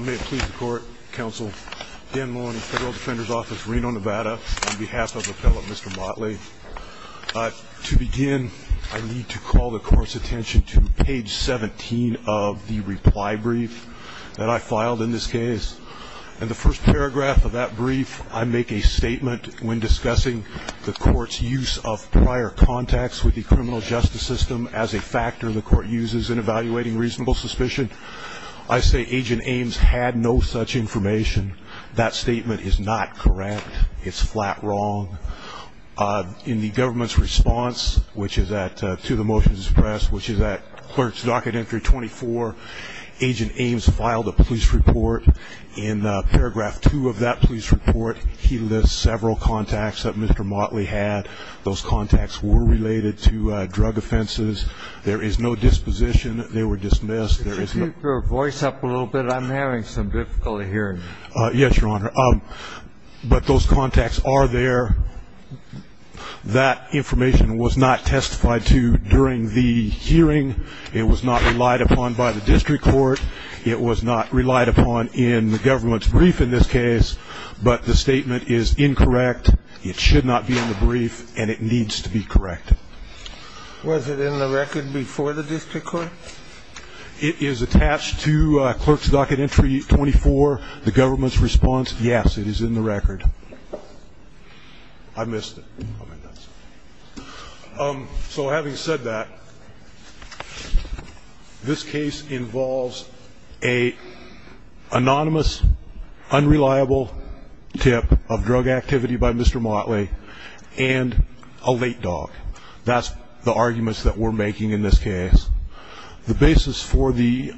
May it please the court, counsel. Dan Maloney, Federal Defender's Office, Reno, Nevada, on behalf of Appellant Mr. Motley. To begin, I need to call the court's attention to page 17 of the reply brief that I filed in this case. In the first paragraph of that brief, I make a statement when discussing the court's use of prior contacts with the criminal justice system as a factor the court uses in evaluating reasonable suspicion. I say Agent Ames had no such information. That statement is not correct. It's flat wrong. In the government's response to the motion to suppress, which is at Clerk's Docket Entry 24, Agent Ames filed a police report. In paragraph 2 of that police report, he lists several contacts that Mr. Motley had. Those contacts were related to drug offenses. There is no disposition. They were dismissed. Could you keep your voice up a little bit? I'm having some difficulty hearing you. Yes, Your Honor. But those contacts are there. That information was not testified to during the hearing. It was not relied upon by the district court. It was not relied upon in the government's brief in this case. But the statement is incorrect. It should not be in the brief, and it needs to be correct. Was it in the record before the district court? It is attached to Clerk's Docket Entry 24. The government's response, yes, it is in the record. I missed it. So having said that, this case involves an anonymous, unreliable tip of drug activity by Mr. Motley and a late dog. That's the arguments that we're making in this case. The basis for the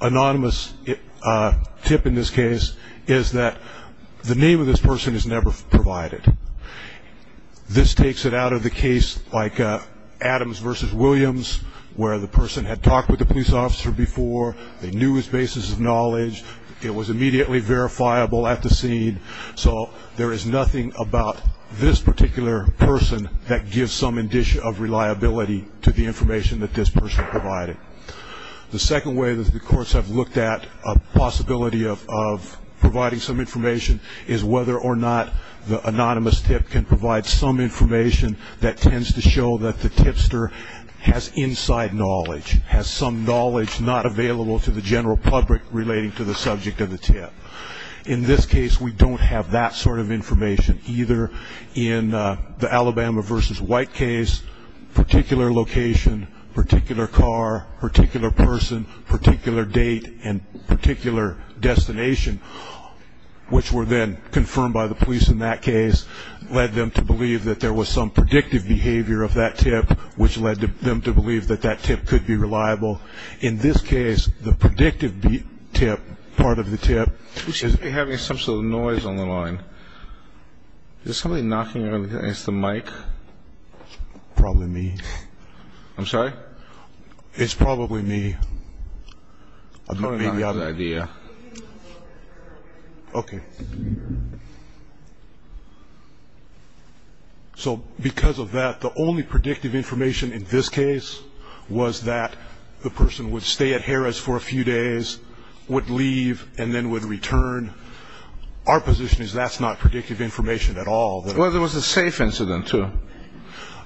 anonymous tip in this case is that the name of this person is never provided. This takes it out of the case like Adams v. Williams, where the person had talked with the police officer before. They knew his basis of knowledge. It was immediately verifiable at the scene. So there is nothing about this particular person that gives some indication of reliability to the information that this person provided. The second way that the courts have looked at a possibility of providing some information is whether or not the anonymous tip can provide some information that tends to show that the tipster has inside knowledge, has some knowledge not available to the general public relating to the subject of the tip. In this case, we don't have that sort of information either. In the Alabama v. White case, particular location, particular car, particular person, particular date, and particular destination, which were then confirmed by the police in that case, led them to believe that there was some predictive behavior of that tip, which led them to believe that that tip could be reliable. In this case, the predictive tip, part of the tip. We should be having some sort of noise on the line. Is somebody knocking on the mic? Probably me. I'm sorry? It's probably me. I don't have any idea. Okay. So because of that, the only predictive information in this case was that the person would stay at Harrah's for a few days, would leave, and then would return. Our position is that's not predictive information at all. Well, there was a safe incident, too.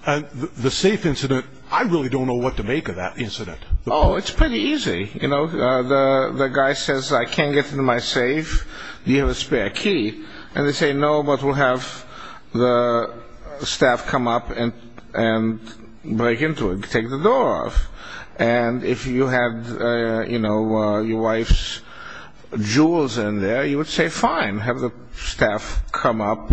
The safe incident, I really don't know what to make of that incident. Oh, it's pretty easy. You know, the guy says, I can't get into my safe. Do you have a spare key? And they say, no, but we'll have the staff come up and break into it, take the door off. And if you had, you know, your wife's jewels in there, you would say, fine, have the staff come up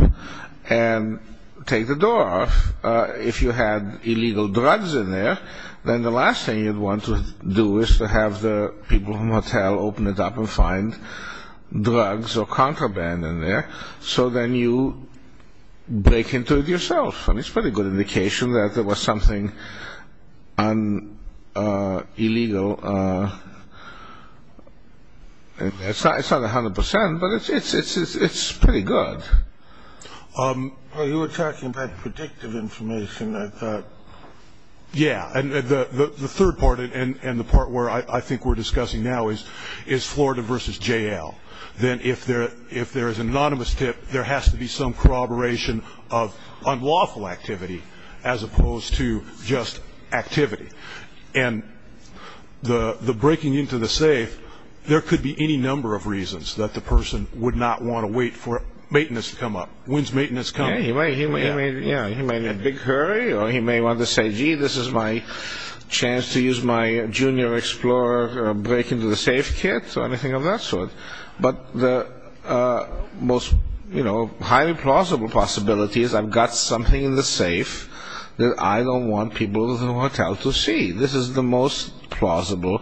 and take the door off. If you had illegal drugs in there, then the last thing you'd want to do is to have the people in the hotel open it up and find drugs or contraband in there, so then you break into it yourself. And it's a pretty good indication that there was something illegal. It's not 100 percent, but it's pretty good. Well, you were talking about predictive information. Yeah, and the third part and the part where I think we're discussing now is Florida versus J.L. Then if there is an anonymous tip, there has to be some corroboration of unlawful activity as opposed to just activity. And the breaking into the safe, there could be any number of reasons that the person would not want to wait for maintenance to come up. When's maintenance coming? He may be in a big hurry, or he may want to say, gee, this is my chance to use my Junior Explorer break into the safe kit, or anything of that sort. But the most highly plausible possibility is I've got something in the safe that I don't want people in the hotel to see. This is the most plausible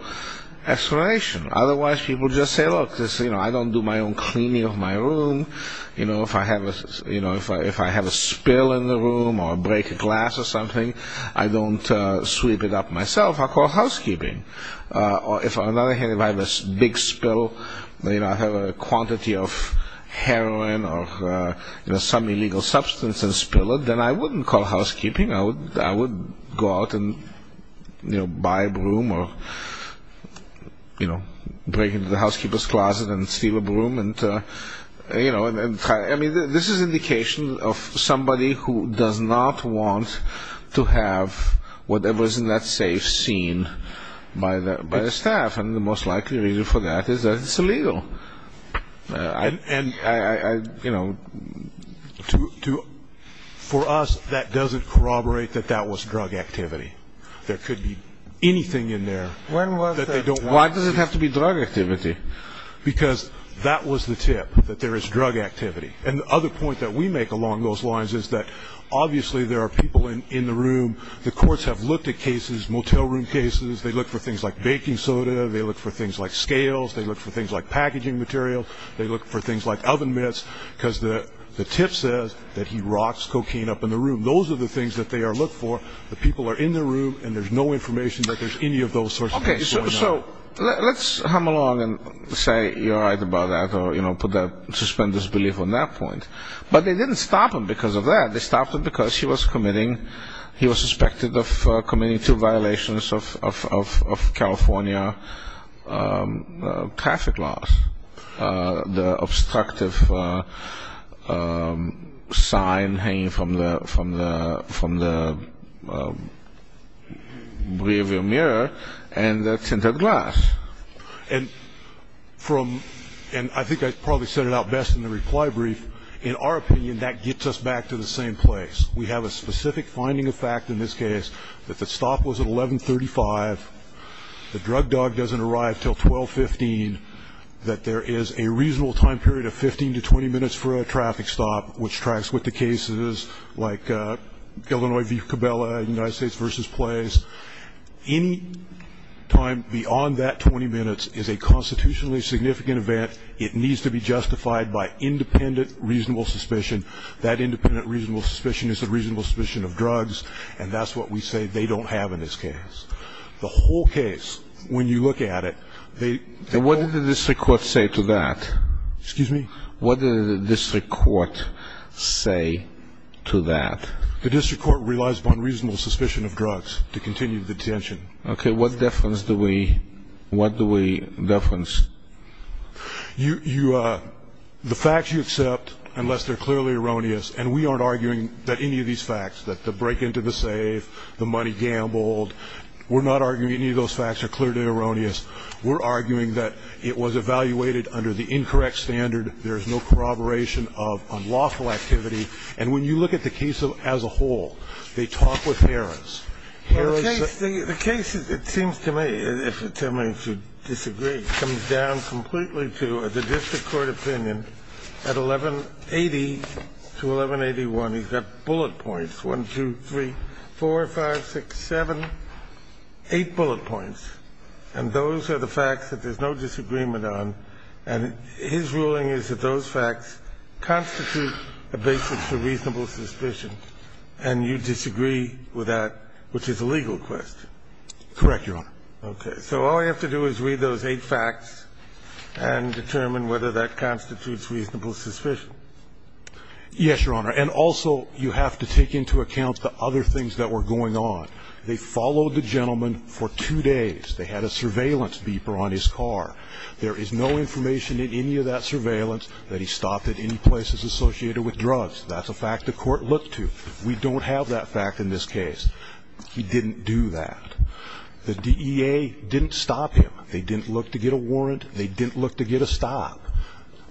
explanation. Otherwise, people just say, look, I don't do my own cleaning of my room. If I have a spill in the room or break a glass or something, I don't sweep it up myself. I call housekeeping. On the other hand, if I have a big spill, if I have a quantity of heroin or some illegal substance and spill it, then I wouldn't call housekeeping. I would go out and, you know, buy a broom or, you know, break into the housekeeper's closet and steal a broom and, you know. I mean, this is indication of somebody who does not want to have whatever is in that safe seen by the staff. And the most likely reason for that is that it's illegal. And, you know, for us, that doesn't corroborate that that was drug activity. There could be anything in there that they don't want to see. Why does it have to be drug activity? Because that was the tip, that there is drug activity. And the other point that we make along those lines is that, obviously, there are people in the room. The courts have looked at cases, motel room cases. They look for things like baking soda. They look for things like scales. They look for things like packaging materials. They look for things like oven mitts because the tip says that he rocks cocaine up in the room. Those are the things that they look for. The people are in the room, and there's no information that there's any of those sorts of things going on. Okay. So let's hum along and say you're right about that or, you know, suspend disbelief on that point. But they didn't stop him because of that. They stopped him because he was committing he was suspected of committing two violations of California traffic laws, the obstructive sign hanging from the rearview mirror and the tinted glass. And I think I probably said it out best in the reply brief. In our opinion, that gets us back to the same place. We have a specific finding of fact in this case that the stop was at 1135, the drug dog doesn't arrive until 1215, that there is a reasonable time period of 15 to 20 minutes for a traffic stop, which tracks with the cases like Illinois v. Cabela, United States v. Place. Any time beyond that 20 minutes is a constitutionally significant event. It needs to be justified by independent reasonable suspicion. That independent reasonable suspicion is the reasonable suspicion of drugs, and that's what we say they don't have in this case. The whole case, when you look at it, they all ---- And what did the district court say to that? Excuse me? What did the district court say to that? The district court relies upon reasonable suspicion of drugs to continue the detention. Okay. What difference do we ---- What do we difference? You ---- The facts you accept, unless they're clearly erroneous, and we aren't arguing that any of these facts, that the break into the safe, the money gambled, we're not arguing any of those facts are clearly erroneous. We're arguing that it was evaluated under the incorrect standard. There is no corroboration of unlawful activity. And when you look at the case as a whole, they talk with errors. Errors ---- The case, it seems to me, if you tell me to disagree, comes down completely to the district court opinion at 1180 to 1181. He's got bullet points, 1, 2, 3, 4, 5, 6, 7, 8 bullet points, and those are the facts that there's no disagreement on. And his ruling is that those facts constitute a basis for reasonable suspicion, and you disagree with that, which is a legal question. Correct, Your Honor. Okay. So all I have to do is read those eight facts and determine whether that constitutes reasonable suspicion. Yes, Your Honor. And also, you have to take into account the other things that were going on. They followed the gentleman for two days. They had a surveillance beeper on his car. There is no information in any of that surveillance that he stopped at any places associated with drugs. That's a fact the court looked to. We don't have that fact in this case. He didn't do that. The DEA didn't stop him. They didn't look to get a warrant. They didn't look to get a stop.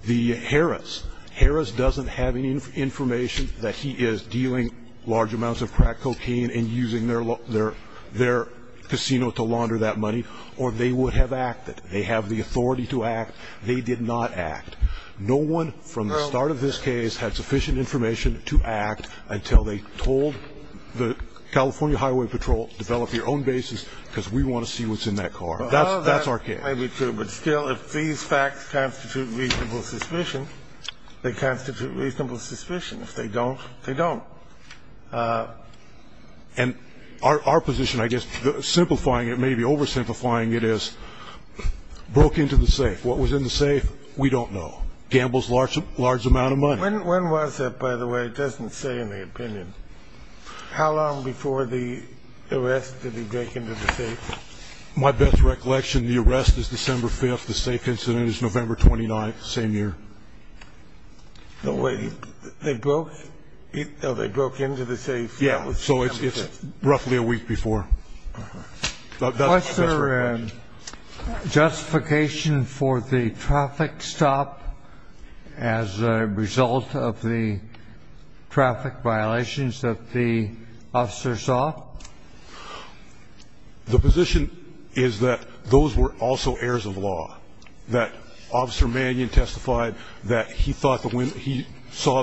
The Harris, Harris doesn't have any information that he is dealing large amounts of crack cocaine and using their casino to launder that money, or they would have acted. They have the authority to act. They did not act. No one from the start of this case had sufficient information to act until they told the California Highway Patrol, develop your own bases, because we want to see what's in that car. That's our case. Well, that may be true, but still, if these facts constitute reasonable suspicion, they constitute reasonable suspicion. If they don't, they don't. And our position, I guess, simplifying it, maybe oversimplifying it, is broke into the safe. What was in the safe, we don't know. Gambles large amount of money. When was it, by the way? It doesn't say in the opinion. How long before the arrest did he break into the safe? My best recollection, the arrest is December 5th. The safe incident is November 29th, same year. They broke into the safe? Yeah, so it's roughly a week before. Was there justification for the traffic stop as a result of the traffic violations that the officer saw? The position is that those were also heirs of law. That Officer Mannion testified that he saw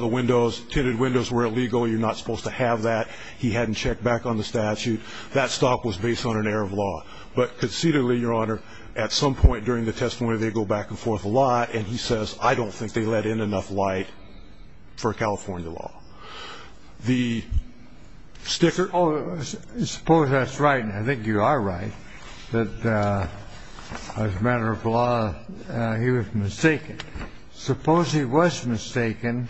the windows, tinted windows were illegal. You're not supposed to have that. He hadn't checked back on the statute. That stop was based on an heir of law. But concededly, Your Honor, at some point during the testimony, they go back and forth a lot, and he says, I don't think they let in enough light for California law. The sticker? Oh, I suppose that's right, and I think you are right. As a matter of law, he was mistaken. Suppose he was mistaken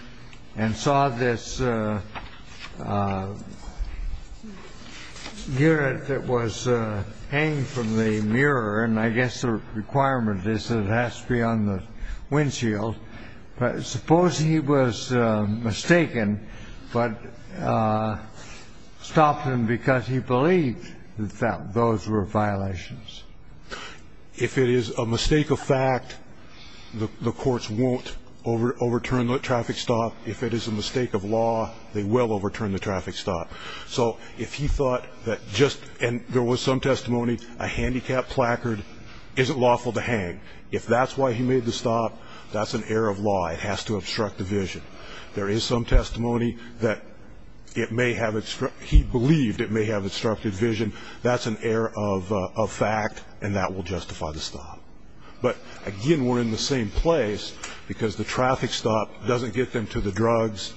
and saw this unit that was hanging from the mirror, and I guess the requirement is that it has to be on the windshield. Suppose he was mistaken but stopped him because he believed that those were violations. If it is a mistake of fact, the courts won't overturn the traffic stop. If it is a mistake of law, they will overturn the traffic stop. So if he thought that just, and there was some testimony, a handicapped placard isn't lawful to hang, if that's why he made the stop, that's an heir of law. It has to obstruct the vision. There is some testimony that it may have, he believed it may have obstructed vision. That's an heir of fact, and that will justify the stop. But, again, we're in the same place because the traffic stop doesn't get them to the drugs,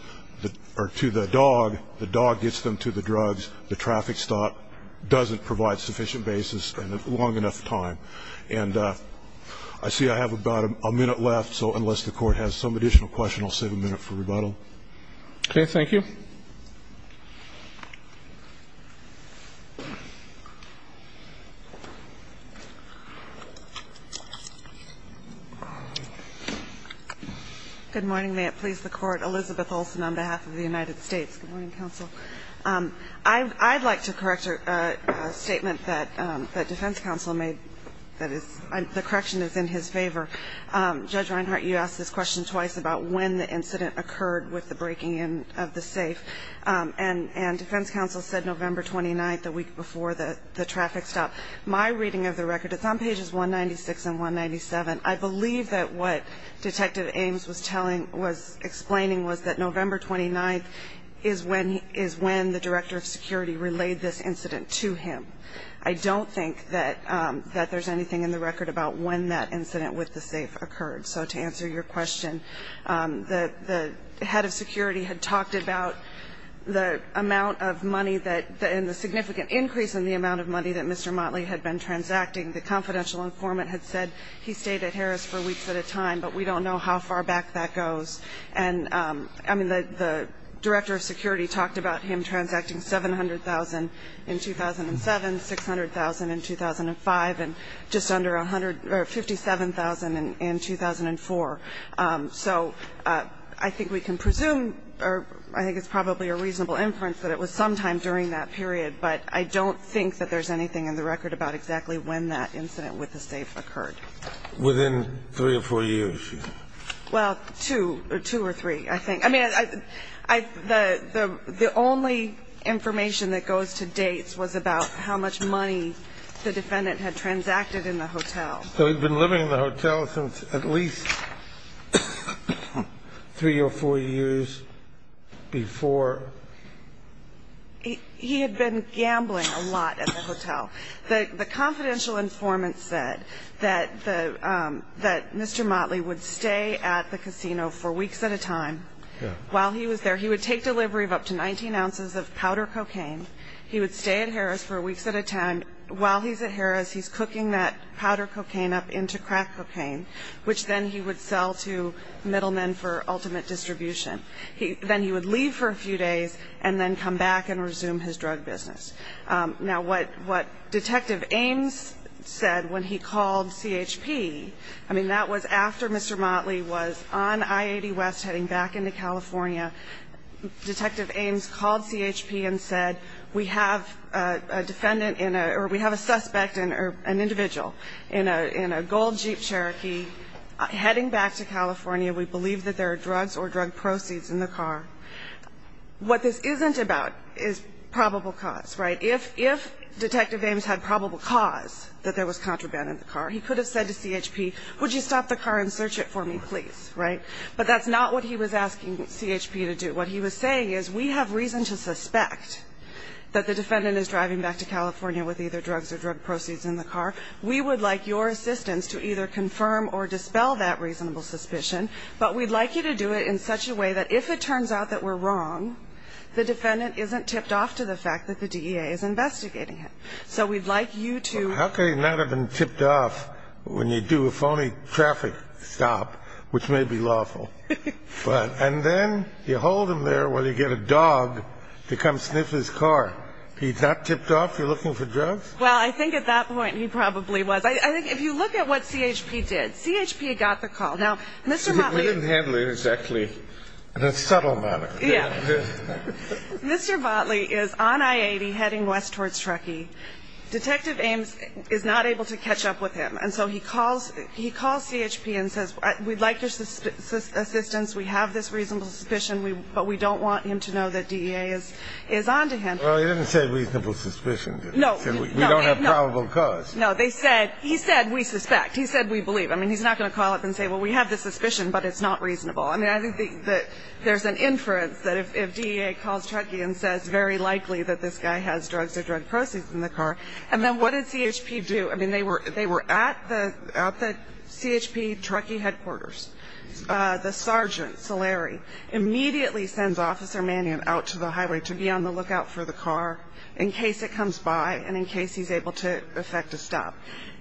or to the dog. The dog gets them to the drugs. The traffic stop doesn't provide sufficient basis and long enough time. And I see I have about a minute left. So unless the Court has some additional question, I'll save a minute for rebuttal. Okay. Thank you. Good morning. May it please the Court. Good morning, Counsel. I'd like to correct a statement that defense counsel made that is, the correction is in his favor. Judge Reinhart, you asked this question twice about when the incident occurred with the breaking in of the safe. And defense counsel said November 29th, the week before the traffic stop. My reading of the record, it's on pages 196 and 197. I believe that what Detective Ames was explaining was that November 29th is when the director of security relayed this incident to him. I don't think that there's anything in the record about when that incident with the safe occurred. So to answer your question, the head of security had talked about the amount of money and the significant increase in the amount of money that Mr. Motley had been transacting. The confidential informant had said he stayed at Harris for weeks at a time, but we don't know how far back that goes. And, I mean, the director of security talked about him transacting $700,000 in 2007, $600,000 in 2005, and just under $157,000 in 2004. So I think we can presume, or I think it's probably a reasonable inference that it was sometime during that period. But I don't think that there's anything in the record about exactly when that incident with the safe occurred. Within three or four years? Well, two or three, I think. I mean, the only information that goes to date was about how much money the defendant had transacted in the hotel. So he'd been living in the hotel since at least three or four years before? He had been gambling a lot at the hotel. The confidential informant said that Mr. Motley would stay at the casino for weeks at a time while he was there. He would take delivery of up to 19 ounces of powder cocaine. He would stay at Harris for weeks at a time. While he's at Harris, he's cooking that powder cocaine up into crack cocaine, which then he would sell to middlemen for ultimate distribution. Then he would leave for a few days and then come back and resume his drug business. Now, what Detective Ames said when he called CHP, I mean, that was after Mr. Motley was on I-80 West heading back into California. Detective Ames called CHP and said, we have a defendant in a or we have a suspect or an individual in a gold Jeep Cherokee heading back to California. We believe that there are drugs or drug proceeds in the car. What this isn't about is probable cause, right? If Detective Ames had probable cause that there was contraband in the car, he could have said to CHP, would you stop the car and search it for me, please, right? But that's not what he was asking CHP to do. What he was saying is we have reason to suspect that the defendant is driving back to California with either drugs or drug proceeds in the car. We would like your assistance to either confirm or dispel that reasonable suspicion. But we'd like you to do it in such a way that if it turns out that we're wrong, the defendant isn't tipped off to the fact that the DEA is investigating him. So we'd like you to. How can he not have been tipped off when you do a phony traffic stop, which may be lawful? And then you hold him there while you get a dog to come sniff his car. He's not tipped off? You're looking for drugs? Well, I think at that point he probably was. I think if you look at what CHP did, CHP got the call. Now, Mr. Motley. We didn't handle it exactly in a subtle manner. Yeah. Mr. Motley is on I-80 heading west towards Truckee. Detective Ames is not able to catch up with him. And so he calls CHP and says we'd like your assistance. We have this reasonable suspicion, but we don't want him to know that DEA is on to him. Well, he didn't say reasonable suspicion, did he? No. We don't have probable cause. No. He said we suspect. He said we believe. I mean, he's not going to call up and say, well, we have this suspicion, but it's not reasonable. I mean, I think that there's an inference that if DEA calls Truckee and says very likely that this guy has drugs or drug proceeds in the car, and then what did CHP do? I mean, they were at the CHP Truckee headquarters. The sergeant, Saleri, immediately sends Officer Mannion out to the highway to be on the lookout for the car in case it comes by and in case he's able to effect a stop.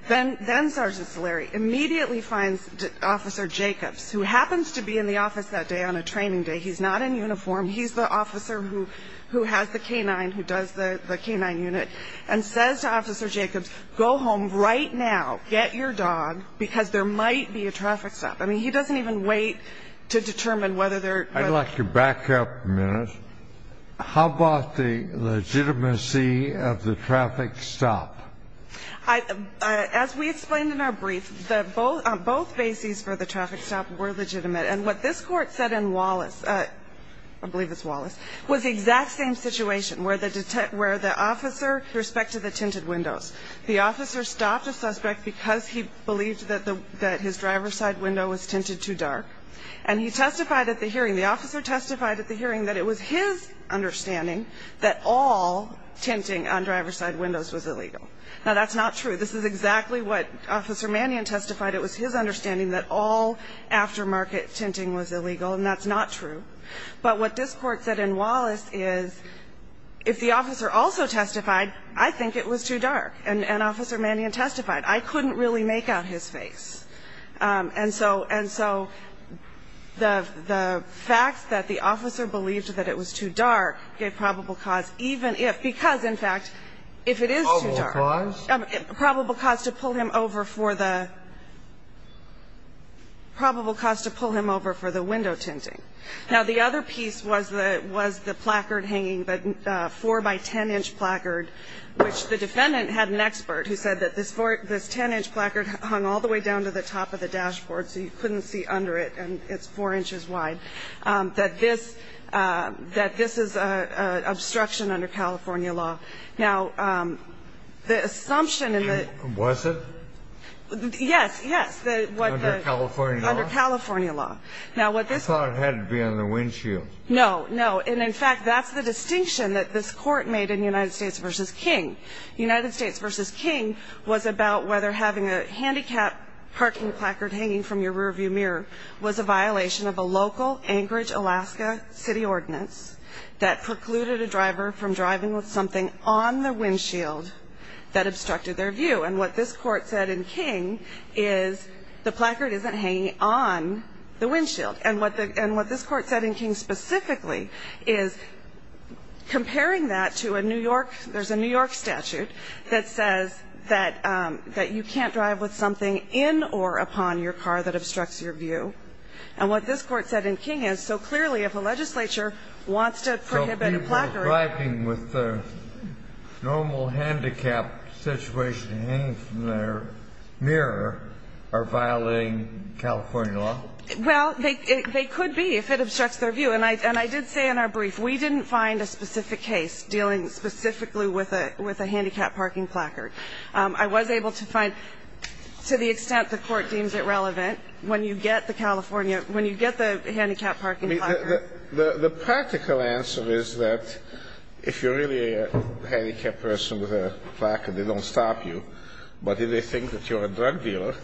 Then Sergeant Saleri immediately finds Officer Jacobs, who happens to be in the office that day on a training day. He's not in uniform. He's the officer who has the K-9, who does the K-9 unit, and says to Officer Jacobs, go home right now, get your dog, because there might be a traffic stop. I mean, he doesn't even wait to determine whether there are. I'd like to back up a minute. I would like to back up a minute. How about the legitimacy of the traffic stop? As we explained in our brief, both bases for the traffic stop were legitimate. And what this Court said in Wallace, I believe it's Wallace, was the exact same situation, where the officer respected the tinted windows. The officer stopped a suspect because he believed that his driver's side window was tinted too dark. And he testified at the hearing, the officer testified at the hearing that it was his understanding that all tinting on driver's side windows was illegal. Now, that's not true. This is exactly what Officer Mannion testified. It was his understanding that all aftermarket tinting was illegal, and that's not true. But what this Court said in Wallace is, if the officer also testified, I think it was too dark. And Officer Mannion testified, I couldn't really make out his face. And so the fact that the officer believed that it was too dark gave probable cause, even if, because, in fact, if it is too dark, probable cause to pull him over for the window tinting. Now, the other piece was the placard hanging, the 4-by-10-inch placard, which the defendant had an expert who said that this 10-inch placard hung all the way down to the top of the dashboard so you couldn't see under it, and it's four inches wide, that this is an obstruction under California law. Now, the assumption in the ---- Was it? Yes, yes. Under California law? Under California law. I thought it had to be on the windshield. No, no. And, in fact, that's the distinction that this Court made in United States v. King. United States v. King was about whether having a handicapped parking placard hanging from your rearview mirror was a violation of a local Anchorage, Alaska, city ordinance that precluded a driver from driving with something on the windshield that obstructed their view. And what this Court said in King is, the placard isn't hanging on the windshield. And what this Court said in King specifically is, comparing that to a New York ---- there's a New York statute that says that you can't drive with something in or upon your car that obstructs your view. And what this Court said in King is, so clearly, if a legislature wants to prohibit a placard ---- So people driving with a normal handicapped situation hanging from their mirror are violating California law? Well, they could be if it obstructs their view. And I did say in our brief, we didn't find a specific case dealing specifically with a handicapped parking placard. I was able to find, to the extent the Court deems it relevant, when you get the California ---- when you get the handicapped parking placard. The practical answer is that if you're really a handicapped person with a placard, they don't stop you. But if they think that you're a drug dealer,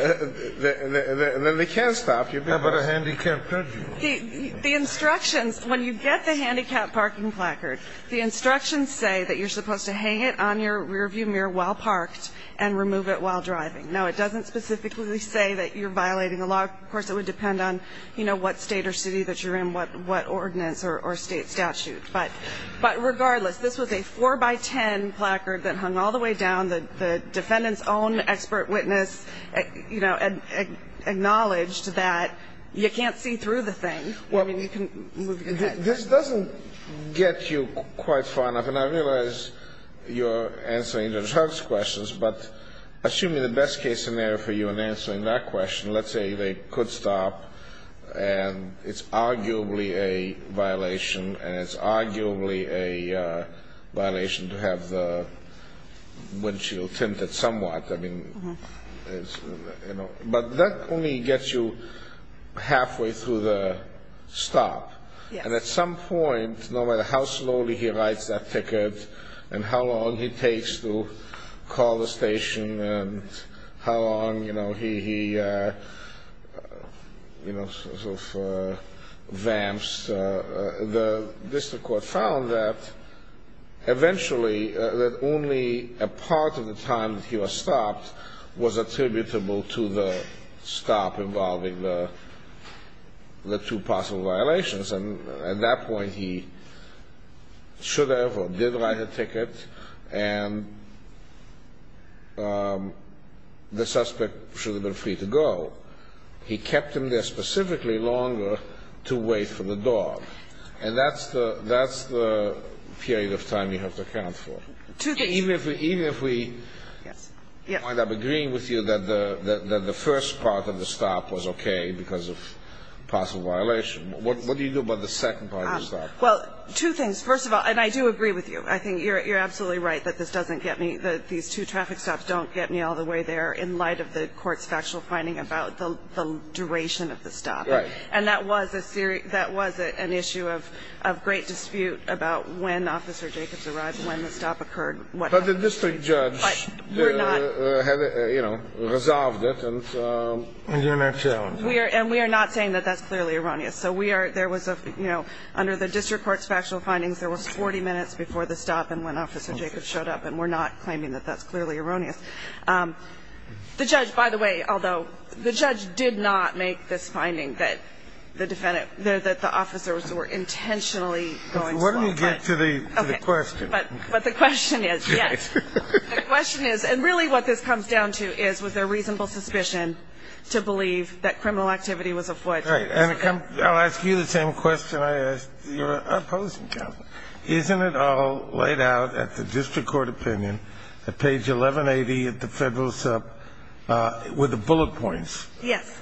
then they can't stop you. How about a handicapped parking placard? The instructions, when you get the handicapped parking placard, the instructions say that you're supposed to hang it on your rearview mirror while parked and remove it while driving. Now, it doesn't specifically say that you're violating the law. Of course, it would depend on, you know, what state or city that you're in, what ordinance or state statute. But regardless, this was a 4-by-10 placard that hung all the way down. The defendant's own expert witness, you know, acknowledged that you can't see through the thing. I mean, you can move your head. This doesn't get you quite far enough. And I realize you're answering the drug's questions, but assuming the best-case scenario for you in answering that question, let's say they could stop, and it's arguably a violation, and it's arguably a violation to have the windshield tinted somewhat. I mean, you know, but that only gets you halfway through the stop. Yes. And at some point, no matter how slowly he writes that ticket and how long it takes to call the station and how long, you know, he sort of vamps, the district court found that eventually that only a part of the time that he was stopped was attributable to the stop involving the two possible violations. And at that point, he should have or did write a ticket, and the suspect should have been free to go. He kept him there specifically longer to wait for the dog. And that's the period of time you have to account for. Even if we end up agreeing with you that the first part of the stop was okay because of possible violation, what do you do about the second part of the stop? Well, two things. First of all, and I do agree with you. I think you're absolutely right that this doesn't get me, that these two traffic stops don't get me all the way there in light of the court's factual finding about the duration of the stop. Right. And that was an issue of great dispute about when Officer Jacobs arrived, when the stop occurred. But the district judge had, you know, resolved it. And we're not saying that that's clearly erroneous. So we are ‑‑ there was a, you know, under the district court's factual findings, there was 40 minutes before the stop and when Officer Jacobs showed up, and we're not claiming that that's clearly erroneous. The judge, by the way, although the judge did not make this finding that the defendant ‑‑ that the officers were intentionally going too long. What do we get to the question? But the question is, yes, the question is, and really what this comes down to is was there reasonable suspicion to believe that criminal activity was afoot? All right. And I'll ask you the same question I asked your opposing counsel. Isn't it all laid out at the district court opinion at page 1180 at the federal sub with the bullet points? Yes.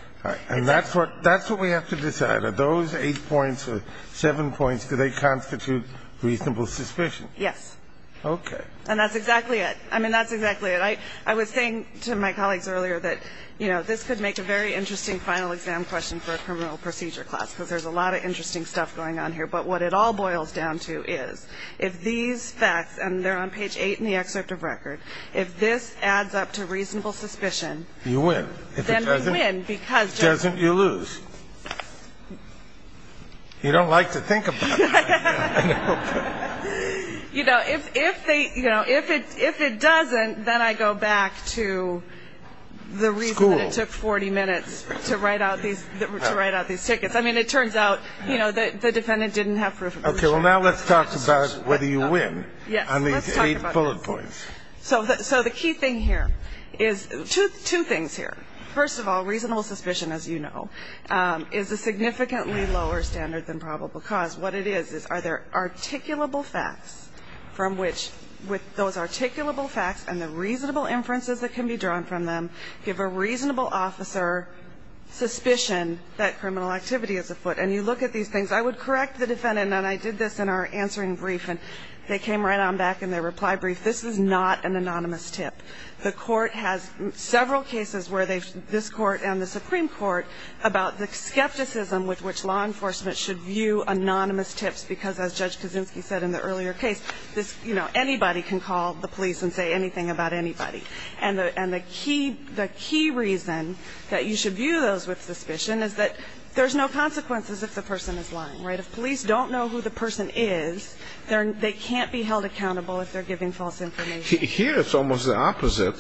And that's what we have to decide. Are those eight points or seven points, do they constitute reasonable suspicion? Yes. Okay. And that's exactly it. I mean, that's exactly it. All right. I was saying to my colleagues earlier that, you know, this could make a very interesting final exam question for a criminal procedure class because there's a lot of interesting stuff going on here. But what it all boils down to is if these facts, and they're on page 8 in the excerpt of record, if this adds up to reasonable suspicion ‑‑ You win. If it doesn't, you lose. You don't like to think about it. You know, if they, you know, if it doesn't, then I go back to the reason it took 40 minutes to write out these tickets. I mean, it turns out, you know, the defendant didn't have proof of ‑‑ Okay. Well, now let's talk about whether you win on these eight bullet points. So the key thing here is two things here. First of all, reasonable suspicion, as you know, is a significantly lower standard than probable cause. What it is is are there articulable facts from which, with those articulable facts and the reasonable inferences that can be drawn from them, give a reasonable officer suspicion that criminal activity is afoot. And you look at these things. I would correct the defendant, and I did this in our answering brief, and they came right on back in their reply brief. This is not an anonymous tip. The court has several cases where this court and the Supreme Court about the skepticism with which law enforcement should view anonymous tips because, as Judge Kaczynski said in the earlier case, this, you know, anybody can call the police and say anything about anybody. And the key reason that you should view those with suspicion is that there's no consequences if the person is lying. Right? If police don't know who the person is, they can't be held accountable if they're giving false information. Here it's almost the opposite.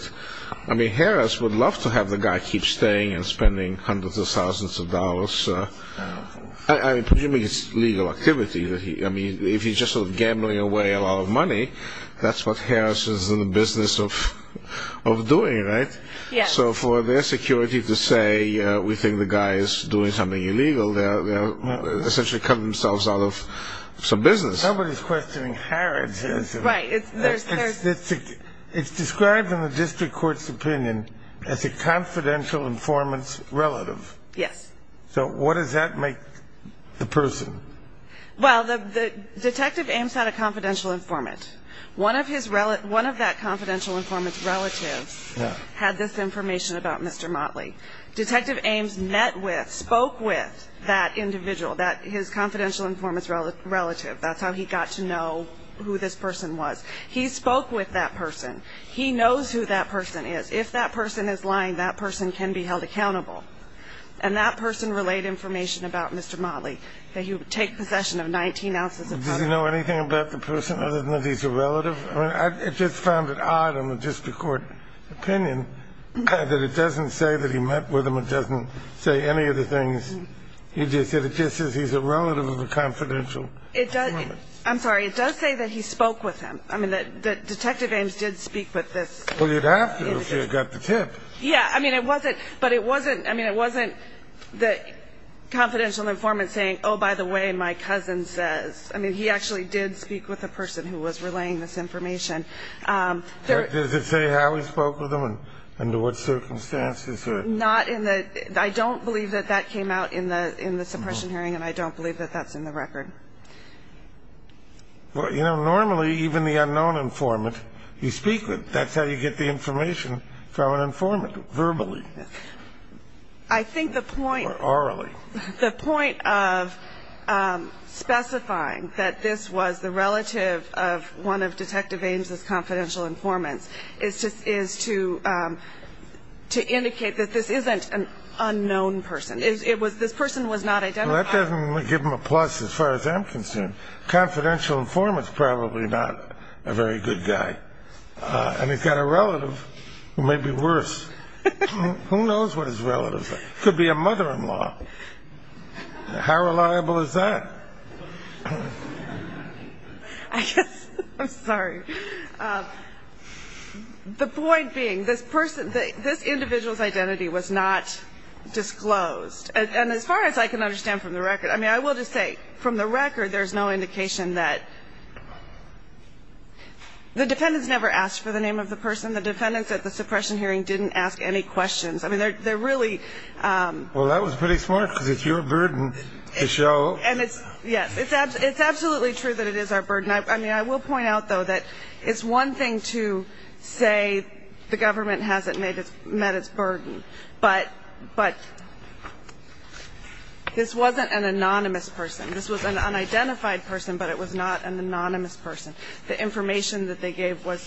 I mean, Harris would love to have the guy keep staying and spending hundreds of thousands of dollars. I mean, presumably it's legal activity. I mean, if he's just sort of gambling away a lot of money, that's what Harris is in the business of doing, right? Yes. So for their security to say we think the guy is doing something illegal, they're essentially cutting themselves out of some business. Somebody's questioning Harris. Right. It's described in the district court's opinion as a confidential informant's relative. Yes. So what does that make the person? Well, Detective Ames had a confidential informant. One of that confidential informant's relatives had this information about Mr. Motley. Detective Ames met with, spoke with that individual, his confidential informant's relative. That's how he got to know who this person was. He spoke with that person. He knows who that person is. If that person is lying, that person can be held accountable. And that person relayed information about Mr. Motley that he would take possession of 19 ounces of drugs. Does he know anything about the person other than that he's a relative? I mean, I just found it odd in the district court opinion that it doesn't say that he met with him. It doesn't say any of the things he did. It just says he's a relative of a confidential informant. I'm sorry. It does say that he spoke with him. I mean, Detective Ames did speak with this individual. Well, you'd have to if you had got the tip. Yeah. I mean, it wasn't the confidential informant saying, oh, by the way, my cousin says. I mean, he actually did speak with the person who was relaying this information. Does it say how he spoke with him and under what circumstances? Not in the ñ I don't believe that that came out in the suppression hearing, and I don't believe that that's in the record. Well, you know, normally even the unknown informant you speak with, that's how you get the information from an informant, verbally. I think the point ñ Or orally. The point of specifying that this was the relative of one of Detective Ames' confidential informants is to indicate that this isn't an unknown person. It was ñ this person was not identified. Well, that doesn't give him a plus as far as I'm concerned. Confidential informant's probably not a very good guy. And he's got a relative who may be worse. Who knows what his relatives are? Could be a mother-in-law. How reliable is that? I guess ñ I'm sorry. The point being this person, this individual's identity was not disclosed. And as far as I can understand from the record ñ I mean, I will just say from the record there's no indication that ñ the defendants never asked for the name of the person. The defendants at the suppression hearing didn't ask any questions. I mean, they're really ñ Well, that was pretty smart because it's your burden to show. And it's ñ yes. It's absolutely true that it is our burden. I mean, I will point out, though, that it's one thing to say the government hasn't met its burden. But this wasn't an anonymous person. This was an unidentified person, but it was not an anonymous person. The information that they gave was,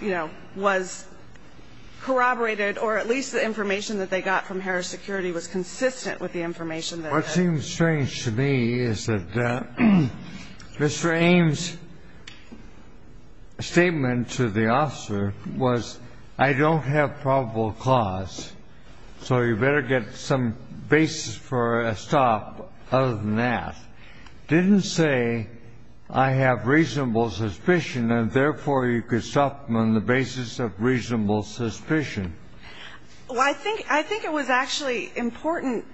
you know, was corroborated or at least the information that they got from Harris Security was consistent with the information that they had. The only thing that's strange to me is that Mr. Ames' statement to the officer was, I don't have probable cause, so you better get some basis for a stop other than that. Didn't say I have reasonable suspicion and, therefore, you could stop them on the basis of reasonable suspicion. Well, I think ñ I think it was actually important ñ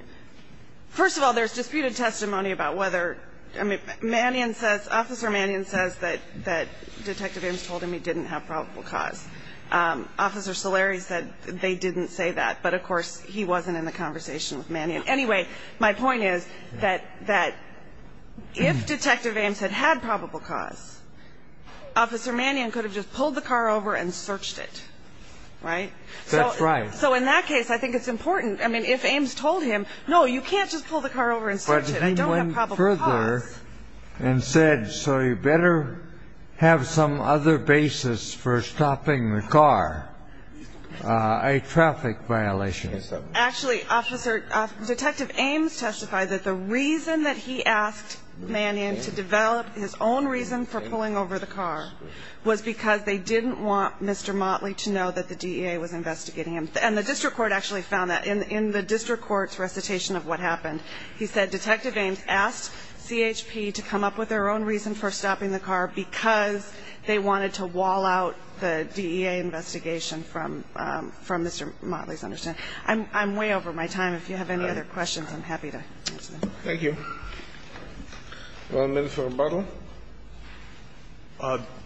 first of all, there's disputed testimony about whether ñ I mean, Mannion says ñ Officer Mannion says that Detective Ames told him he didn't have probable cause. Officer Solari said they didn't say that. But, of course, he wasn't in the conversation with Mannion. Anyway, my point is that if Detective Ames had had probable cause, Officer Mannion could have just pulled the car over and searched it, right? That's right. So in that case, I think it's important ñ I mean, if Ames told him, no, you can't just pull the car over and search it, you don't have probable cause. But he went further and said, so you better have some other basis for stopping the car, a traffic violation. Actually, Officer ñ Detective Ames testified that the reason that he asked Mannion to develop his own reason for pulling over the car was because they didn't want Mr. Motley to know that the DEA was investigating him. And the district court actually found that in the district court's recitation of what happened. He said Detective Ames asked CHP to come up with their own reason for stopping the car because they wanted to wall out the DEA investigation from Mr. Motley's understanding. I'm way over my time. If you have any other questions, I'm happy to answer them. Thank you. One minute for rebuttal.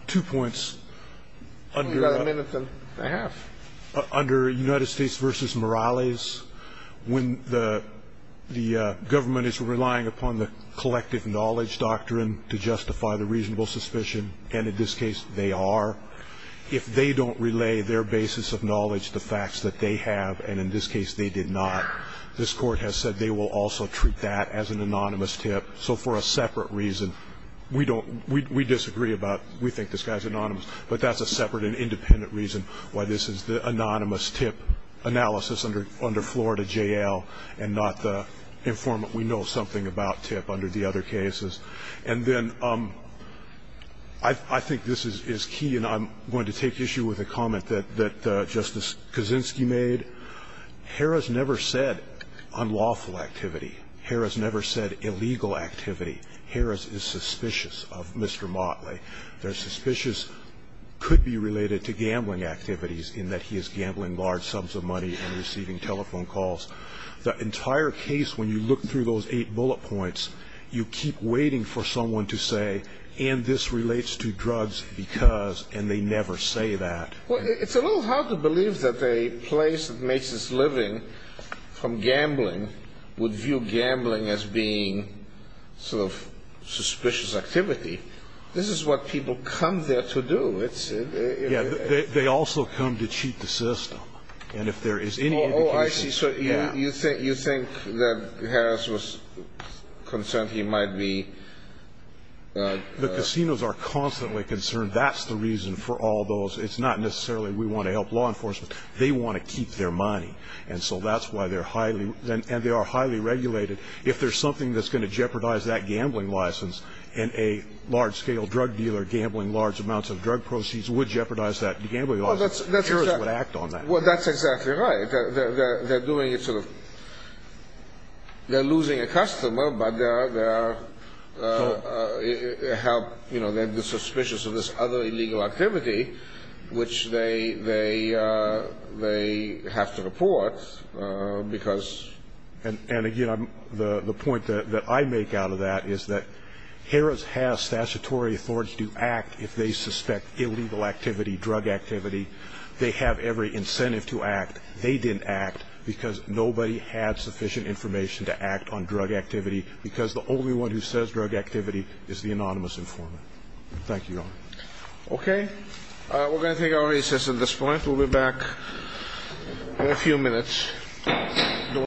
Two points. You've got a minute and a half. Under United States v. Morales, when the government is relying upon the collective knowledge doctrine to justify the reasonable suspicion, and in this case they are, if they don't relay their basis of knowledge, the facts that they have, and in this case they did not, this court has said they will also treat that as an anonymous tip. So for a separate reason, we disagree about we think this guy is anonymous, but that's a separate and independent reason why this is the anonymous tip analysis under Florida J.L. and not the informant we know something about tip under the other cases. And then I think this is key, and I'm going to take issue with a comment that Justice Kaczynski made. Harris never said unlawful activity. Harris never said illegal activity. Harris is suspicious of Mr. Motley. They're suspicious could be related to gambling activities in that he is gambling large sums of money and receiving telephone calls. The entire case, when you look through those eight bullet points, you keep waiting for someone to say, and this relates to drugs because, and they never say that. Well, it's a little hard to believe that a place that makes its living from gambling would view gambling as being sort of suspicious activity. This is what people come there to do. Yeah, they also come to cheat the system. And if there is any indication... Oh, I see, so you think that Harris was concerned he might be... The casinos are constantly concerned. That's the reason for all those. It's not necessarily we want to help law enforcement. They want to keep their money, and so that's why they're highly, and they are highly regulated. If there's something that's going to jeopardize that gambling license and a large-scale drug dealer gambling large amounts of drug proceeds would jeopardize that gambling license, Harris would act on that. Well, that's exactly right. They're doing it sort of, they're losing a customer, but they're suspicious of this other illegal activity, which they have to report because... And again, the point that I make out of that is that Harris has statutory authority to act if they suspect illegal activity, drug activity. They have every incentive to act. They didn't act because nobody had sufficient information to act on drug activity because the only one who says drug activity is the anonymous informant. Thank you, Your Honor. Okay. We're going to take our recess at this point. We'll be back in a few minutes.